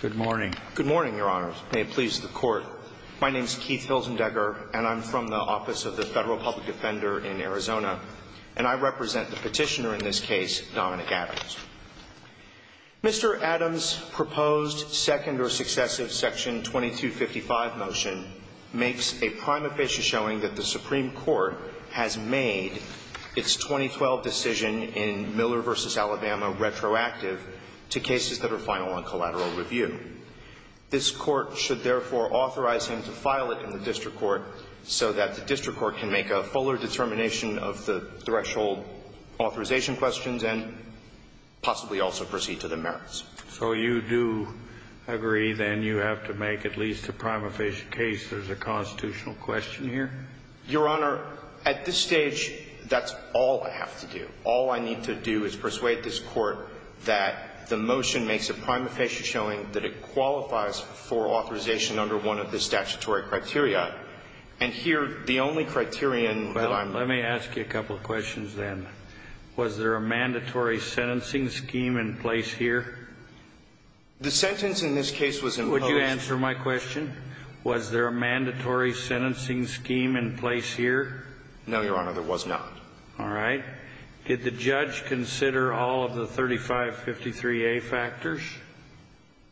Good morning. Good morning, Your Honors. May it please the Court. My name is Keith Hildendecker, and I'm from the Office of the Federal Public Defender in Arizona, and I represent the petitioner in this case, Dominic Adams. Mr. Adams' proposed second or successive Section 2255 motion makes a prima facie showing that the Supreme Court has made its 2012 decision in Miller v. Alabama retroactive to cases that are final on collateral review. This Court should therefore authorize him to file it in the district court so that the district court can make a fuller determination of the threshold authorization questions and possibly also proceed to the merits. So you do agree, then, you have to make at least a prima facie case there's a constitutional question here? Your Honor, at this stage, that's all I have to do. All I need to do is persuade this Court that the motion makes a prima facie showing that it qualifies for authorization under one of the statutory criteria. And here, the only criterion that I'm Let me ask you a couple of questions, then. Was there a mandatory sentencing scheme in place here? The sentence in this case was imposed Would you answer my question? Was there a mandatory sentencing scheme in place here? No, Your Honor. There was not. All right. Did the judge consider all of the 3553A factors?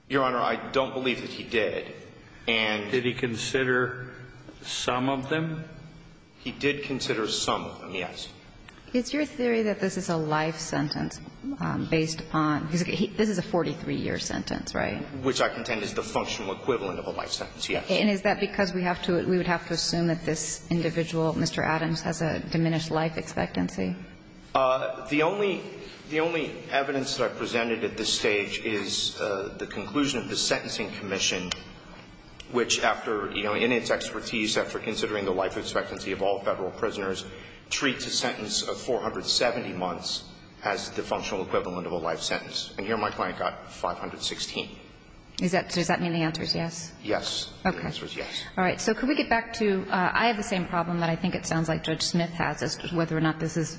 Your Honor, I don't believe that he did. And did he consider some of them? He did consider some of them, yes. It's your theory that this is a life sentence based upon This is a 43-year sentence, right? Which I contend is the functional equivalent of a life sentence, yes. And is that because we have to We would have to assume that this individual, Mr. Adams, has a diminished life expectancy? The only The only evidence that I presented at this stage is the conclusion of the Sentencing Commission, which, after, you know, in its expertise, after considering the life expectancy of all Federal prisoners, treats a sentence of 470 months as the functional equivalent of a life sentence. And here my client got 516. Is that Does that mean the answer is yes? Yes. Okay. The answer is yes. All right. So could we get back to I have the same problem that I think it sounds like Judge Smith has as to whether or not this is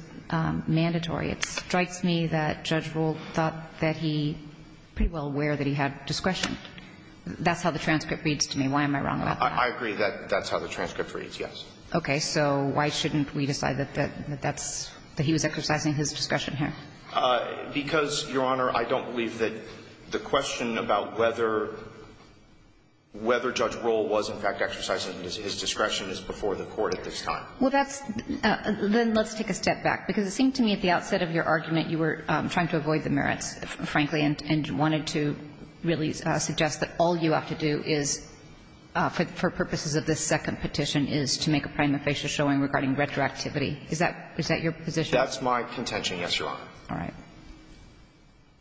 mandatory. It strikes me that Judge Rule thought that he was pretty well aware that he had discretion. That's how the transcript reads to me. Why am I wrong about that? I agree that that's how the transcript reads, yes. So why shouldn't we decide that that's that he was exercising his discretion Because, Your Honor, I don't believe that the question about whether whether Judge Rule was in fact exercising his discretion is before the Court at this time. Well, that's Then let's take a step back, because it seemed to me at the outset of your argument you were trying to avoid the merits, frankly, and wanted to really suggest that all you have to do is, for purposes of this second petition, is to make a prima facie showing regarding retroactivity. Is that your position? That's my contention, yes, Your Honor. All right.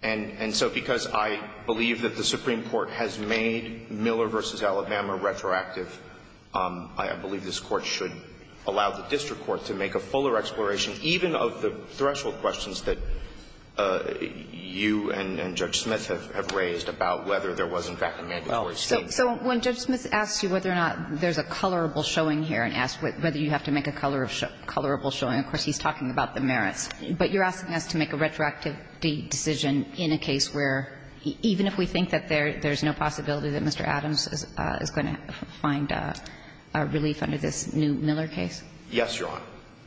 And so because I believe that the Supreme Court has made Miller v. Alabama retroactive, I believe this Court should allow the district court to make a fuller exploration even of the threshold questions that you and Judge Smith have raised about whether there was in fact a mandatory statement. So when Judge Smith asks you whether or not there's a colorable showing here and asks whether you have to make a colorable showing, of course, he's talking about the merits. But you're asking us to make a retroactive decision in a case where, even if we think that there's no possibility that Mr. Adams is going to find relief under this new Miller case? Yes, Your Honor,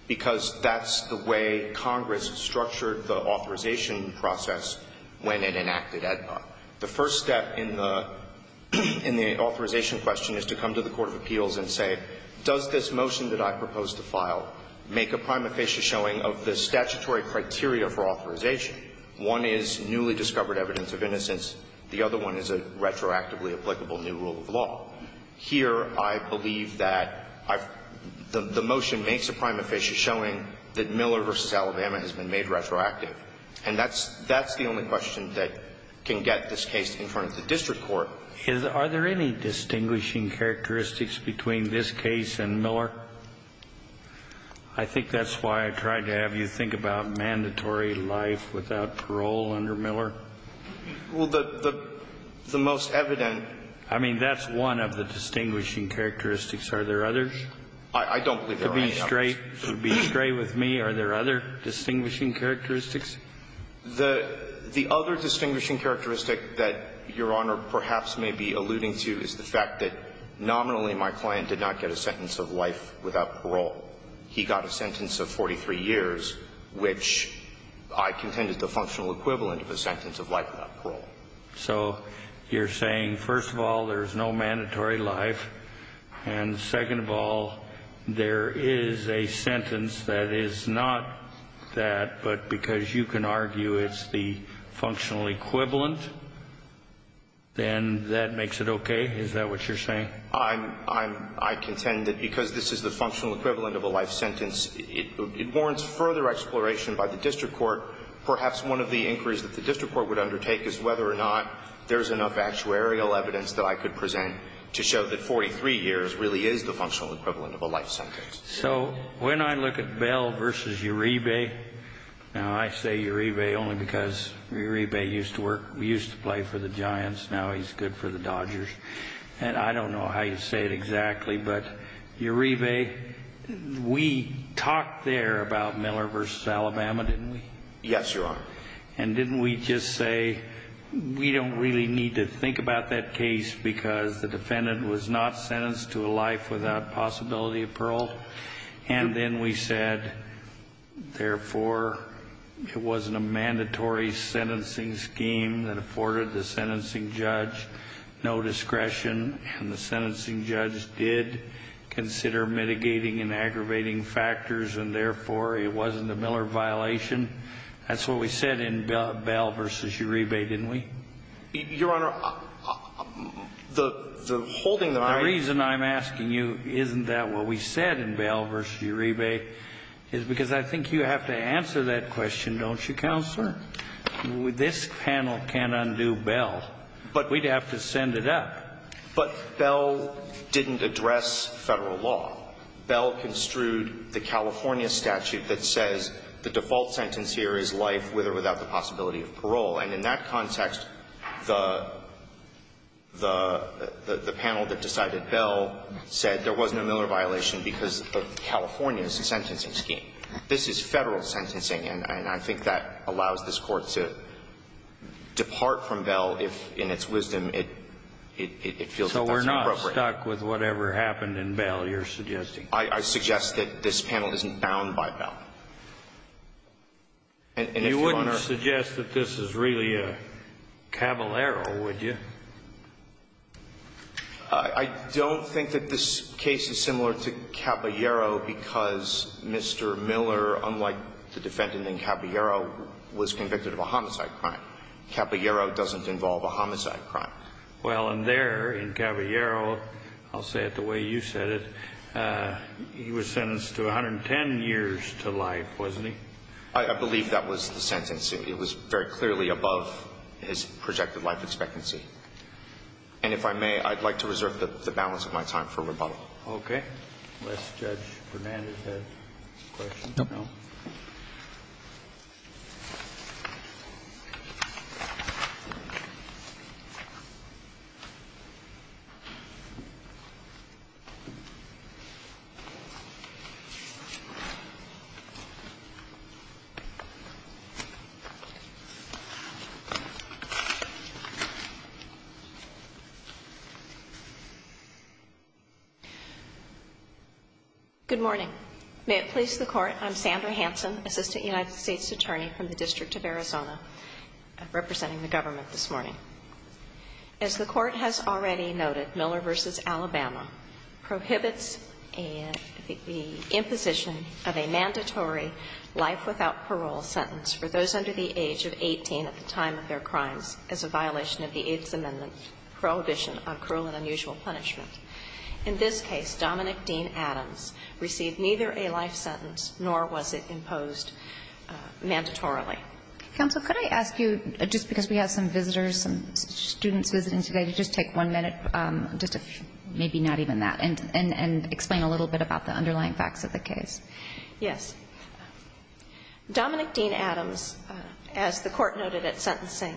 because that's the way Congress structured the authorization process when it enacted AEDPA. The first step in the authorization question is to come to the court of appeals and say, does this motion that I propose to file make a prima facie showing of the statutory criteria for authorization? One is newly discovered evidence of innocence. The other one is a retroactively applicable new rule of law. Here, I believe that the motion makes a prima facie showing that Miller v. Alabama has been made retroactive. And that's the only question that can get this case in front of the district court. Are there any distinguishing characteristics between this case and Miller? I think that's why I tried to have you think about mandatory life without parole under Miller. Well, the most evident. I mean, that's one of the distinguishing characteristics. Are there others? I don't believe there are any others. To be straight with me, are there other distinguishing characteristics? The other distinguishing characteristic that Your Honor perhaps may be alluding to is the fact that nominally my client did not get a sentence of life without parole. He got a sentence of 43 years, which I contend is the functional equivalent of a sentence of life without parole. So you're saying, first of all, there's no mandatory life, and second of all, there is a sentence that is not that, but because you can argue it's the functional equivalent, then that makes it okay? Is that what you're saying? I contend that because this is the functional equivalent of a life sentence, it warrants further exploration by the district court. Perhaps one of the inquiries that the district court would undertake is whether or not there's enough actuarial evidence that I could present to show that 43 years really is the functional equivalent of a life sentence. So when I look at Bell v. Uribe, now I say Uribe only because Uribe used to work, used to play for the Giants. Now he's good for the Dodgers. And I don't know how you say it exactly, but Uribe, we talked there about Miller v. Alabama, didn't we? Yes, Your Honor. And didn't we just say we don't really need to think about that case because the possibility of parole? And then we said, therefore, it wasn't a mandatory sentencing scheme that afforded the sentencing judge no discretion, and the sentencing judge did consider mitigating and aggravating factors, and therefore, it wasn't a Miller violation. That's what we said in Bell v. Uribe, didn't we? Your Honor, the holding that I raise to that point is that I don't think there's anything wrong with asking you, isn't that what we said in Bell v. Uribe, is because I think you have to answer that question, don't you, Counselor? This panel can't undo Bell, but we'd have to send it up. But Bell didn't address Federal law. Bell construed the California statute that says the default sentence here is life with or without the possibility of parole. And in that context, the panel that decided Bell said there was no Miller violation because of California's sentencing scheme. This is Federal sentencing, and I think that allows this Court to depart from Bell if, in its wisdom, it feels that that's appropriate. So we're not stuck with whatever happened in Bell, you're suggesting? I suggest that this panel isn't bound by Bell. And if, Your Honor You wouldn't suggest that this is really a Caballero, would you? I don't think that this case is similar to Caballero because Mr. Miller, unlike the defendant in Caballero, was convicted of a homicide crime. Caballero doesn't involve a homicide crime. Well, and there in Caballero, I'll say it the way you said it, he was sentenced to 110 years to life, wasn't he? I believe that was the sentence. It was very clearly above his projected life expectancy. And if I may, I'd like to reserve the balance of my time for rebuttal. Unless Judge Fernandez has questions. No. Thank you. Good morning. May it please the Court, I'm Sandra Hansen, Assistant United States Attorney from the District of Arizona, representing the government this morning. As the Court has already noted, Miller v. Alabama prohibits an imposition of a mandatory life without parole sentence for those under the age of 18 at the time of their crimes as a violation of the AIDS Amendment prohibition on cruel and unusual punishment. In this case, Dominic Dean Adams received neither a life sentence nor was it imposed mandatorily. Counsel, could I ask you, just because we have some visitors, some students visiting today, to just take one minute, just to maybe not even that, and explain a little bit about the underlying facts of the case. Yes. Dominic Dean Adams, as the Court noted at sentencing,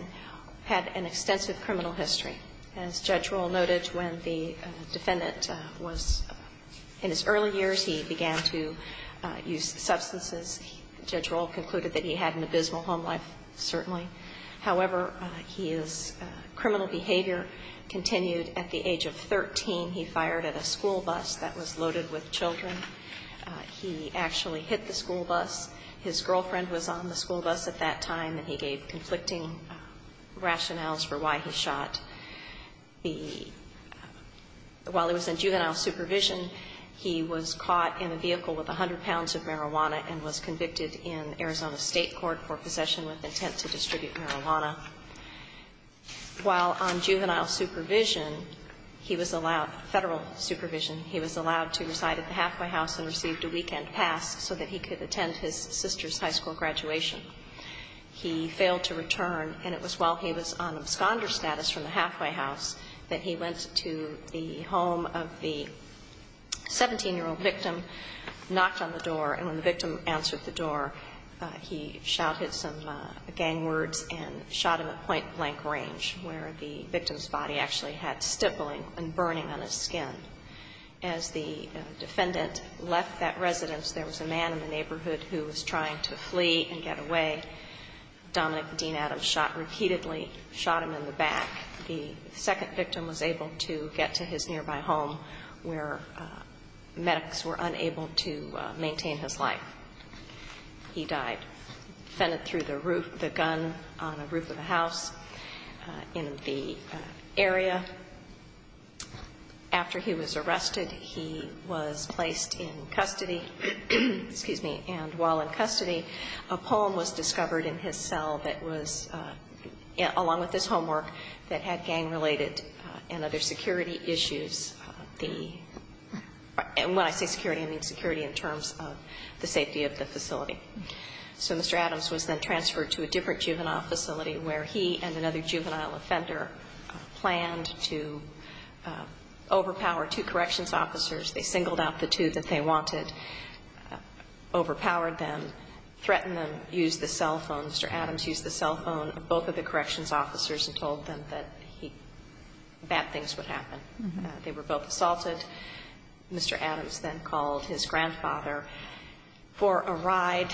had an extensive criminal history. As Judge Rohl noted, when the defendant was in his early years, he began to use substances. Judge Rohl concluded that he had an abysmal home life, certainly. However, his criminal behavior continued. At the age of 13, he fired at a school bus that was loaded with children. He actually hit the school bus. His girlfriend was on the school bus at that time, and he gave conflicting rationales for why he shot. While he was in juvenile supervision, he was caught in a vehicle with 100 pounds of marijuana and was convicted in Arizona State Court for possession with intent to distribute marijuana. While on juvenile supervision, he was allowed, Federal supervision, he was allowed to reside at the halfway house and received a weekend pass so that he could attend his sister's high school graduation. He failed to return, and it was while he was on absconder status from the halfway house that he went to the home of the 17-year-old victim, knocked on the door, and when the victim answered the door, he shouted some gang words and shot him at point blank range where the victim's body actually had stippling and burning on his skin. As the defendant left that residence, there was a man in the neighborhood who was trying to flee and get away. Dominic Dean Adams shot repeatedly, shot him in the back. The second victim was able to get to his nearby home where medics were unable to identify. He died. Fended through the roof, the gun on a roof of a house in the area. After he was arrested, he was placed in custody. Excuse me. And while in custody, a poem was discovered in his cell that was, along with his homework, that had gang-related and other security issues. And when I say security, I mean security in terms of the safety of the facility. So Mr. Adams was then transferred to a different juvenile facility where he and another juvenile offender planned to overpower two corrections officers. They singled out the two that they wanted, overpowered them, threatened them, used the cell phone. Mr. Adams used the cell phone of both of the corrections officers and told them that bad things would happen. They were both assaulted. Mr. Adams then called his grandfather for a ride.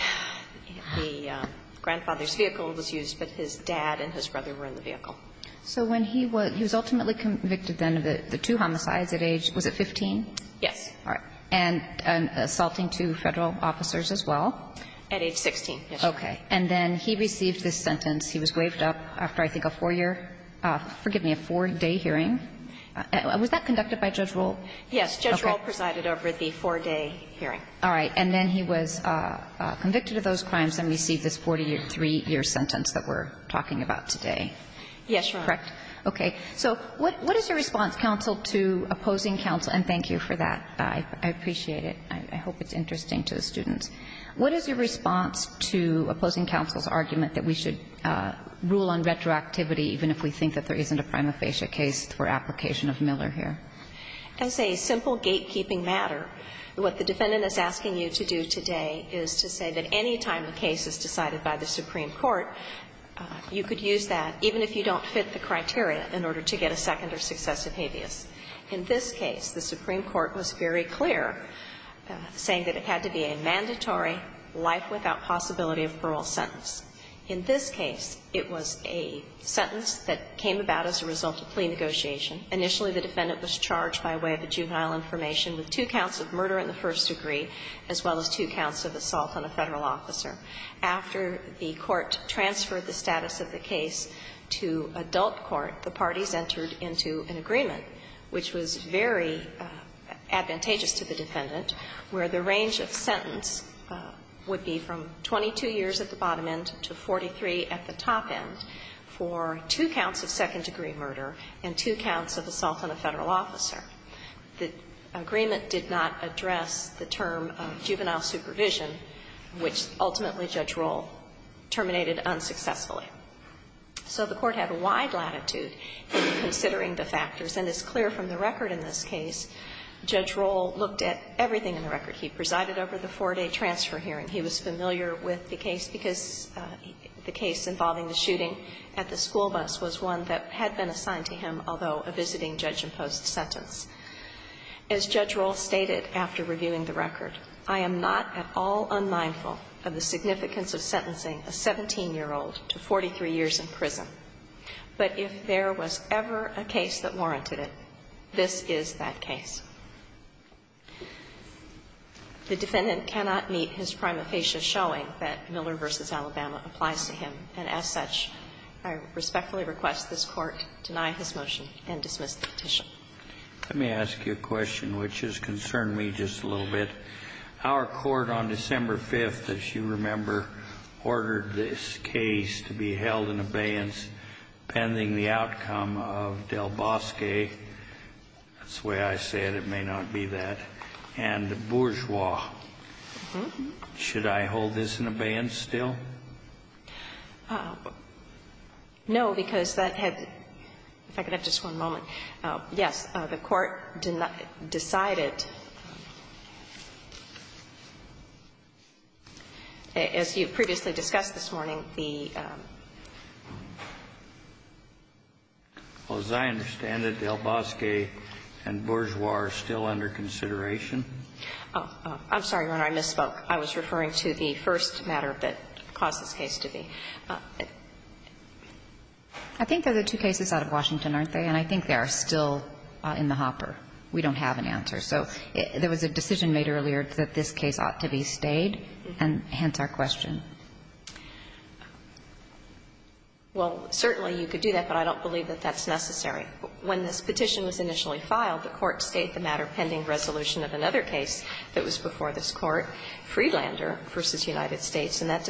The grandfather's vehicle was used, but his dad and his brother were in the vehicle. So when he was ultimately convicted then of the two homicides at age, was it 15? Yes. All right. And assaulting two Federal officers as well? At age 16, yes. Okay. And then he received this sentence. He was waived up after I think a four-year – forgive me, a four-day hearing. Was that conducted by Judge Rohl? Yes. Judge Rohl presided over the four-day hearing. All right. And then he was convicted of those crimes and received this 43-year sentence that we're talking about today. Yes, Your Honor. Correct? Okay. So what is your response, counsel, to opposing counsel? And thank you for that. I appreciate it. I hope it's interesting to the students. What is your response to opposing counsel's argument that we should rule on retroactivity even if we think that there isn't a prima facie case for application of Miller here? As a simple gatekeeping matter, what the defendant is asking you to do today is to say that any time a case is decided by the Supreme Court, you could use that, even if you don't fit the criteria, in order to get a second or successive habeas. In this case, the Supreme Court was very clear, saying that it had to be a mandatory life-without-possibility-of-parole sentence. In this case, it was a sentence that came about as a result of plea negotiation. Initially, the defendant was charged by way of a juvenile information with two counts of murder in the first degree, as well as two counts of assault on a Federal officer. After the court transferred the status of the case to adult court, the parties entered into an agreement, which was very advantageous to the defendant, where the range of sentence would be from 22 years at the bottom end to 43 at the top end for two counts of second-degree murder and two counts of assault on a Federal officer. The agreement did not address the term of juvenile supervision, which ultimately, Judge Rohl, terminated unsuccessfully. So the Court had wide latitude in considering the factors, and it's clear from the record in this case, Judge Rohl looked at everything in the record. He presided over the four-day transfer hearing. He was familiar with the case because the case involving the shooting at the school bus was one that had been assigned to him, although a visiting judge imposed the sentence. As Judge Rohl stated after reviewing the record, I am not at all unmindful of the significance of sentencing a 17-year-old to 43 years in prison, but if there was ever a case that warranted it, this is that case. The defendant cannot meet his prima facie showing that Miller v. Alabama applies to him, and as such, I respectfully request this Court deny his motion and dismiss the petition. Let me ask you a question which has concerned me just a little bit. Our Court on December 5th, as you remember, ordered this case to be held in abeyance pending the outcome of Del Bosque. That's the way I say it. It may not be that. And Bourgeois. Mm-hmm. Should I hold this in abeyance still? No, because that had to be ---- if I could have just one moment. Yes. The Court decided, as you previously discussed this morning, the ---- Well, as I understand it, Del Bosque and Bourgeois are still under consideration. Oh. I'm sorry, Your Honor. I misspoke. I was referring to the first matter that caused this case to be. I think they're the two cases out of Washington, aren't they? And I think they are still in the hopper. We don't have an answer. So there was a decision made earlier that this case ought to be stayed, and hence our question. Well, certainly you could do that, but I don't believe that that's necessary. When this petition was initially filed, the Court stated the matter pending resolution of another case that was before this Court, Freelander v. United States, and that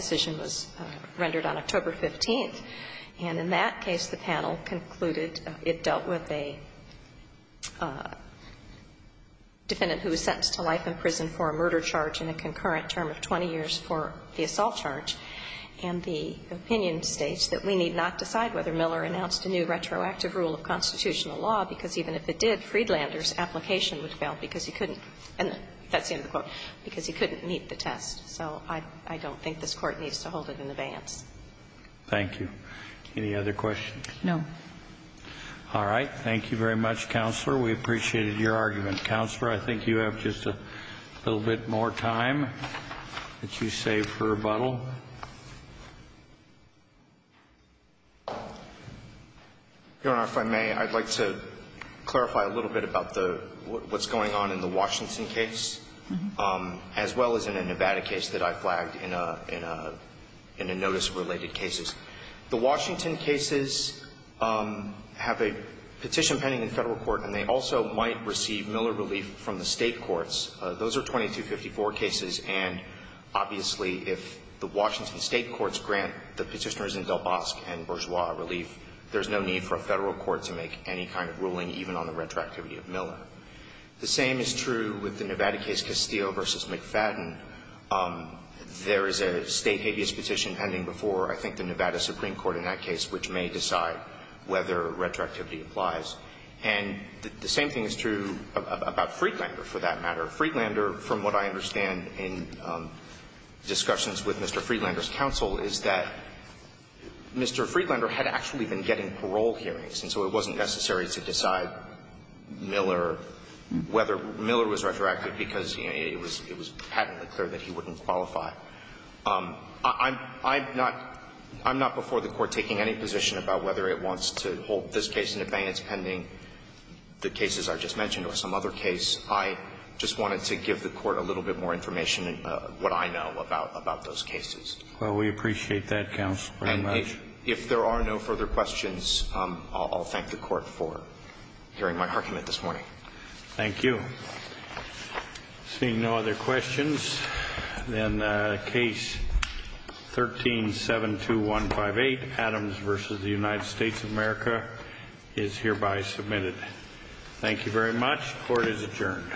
And in that case, the panel concluded it dealt with a defendant who was sentenced to life in prison for a murder charge and a concurrent term of 20 years for the assault charge, and the opinion states that we need not decide whether Miller announced a new retroactive rule of constitutional law, because even if it did, Freelander's application would fail because he couldn't ---- that's the end of the quote ---- because he couldn't meet the test. So I don't think this Court needs to hold it in advance. Thank you. Any other questions? No. All right. Thank you very much, Counselor. We appreciated your argument. Counselor, I think you have just a little bit more time that you save for rebuttal. Your Honor, if I may, I'd like to clarify a little bit about what's going on in the case that I flagged in a notice-related cases. The Washington cases have a petition pending in Federal court, and they also might receive Miller relief from the State courts. Those are 2254 cases, and obviously, if the Washington State courts grant the Petitioners in Del Bosque and Bourgeois a relief, there's no need for a Federal court to make any kind of ruling, even on the retroactivity of Miller. The same is true with the Nevada case Castillo v. McFadden. There is a State habeas petition pending before, I think, the Nevada Supreme Court in that case, which may decide whether retroactivity applies. And the same thing is true about Freelander, for that matter. Freelander, from what I understand in discussions with Mr. Freelander's counsel, is that Mr. Freelander had actually been getting parole hearings, and so it wasn't necessary to decide whether Miller was retroactive, because it was patently clear that he wouldn't qualify. I'm not before the Court taking any position about whether it wants to hold this case in advance, pending the cases I just mentioned or some other case. I just wanted to give the Court a little bit more information, what I know about those cases. Well, we appreciate that, Counsel, very much. If there are no further questions, I'll thank the Court for hearing my argument this morning. Thank you. Seeing no other questions, then Case 13-72158, Adams v. United States of America, is hereby submitted. Thank you very much. Court is adjourned.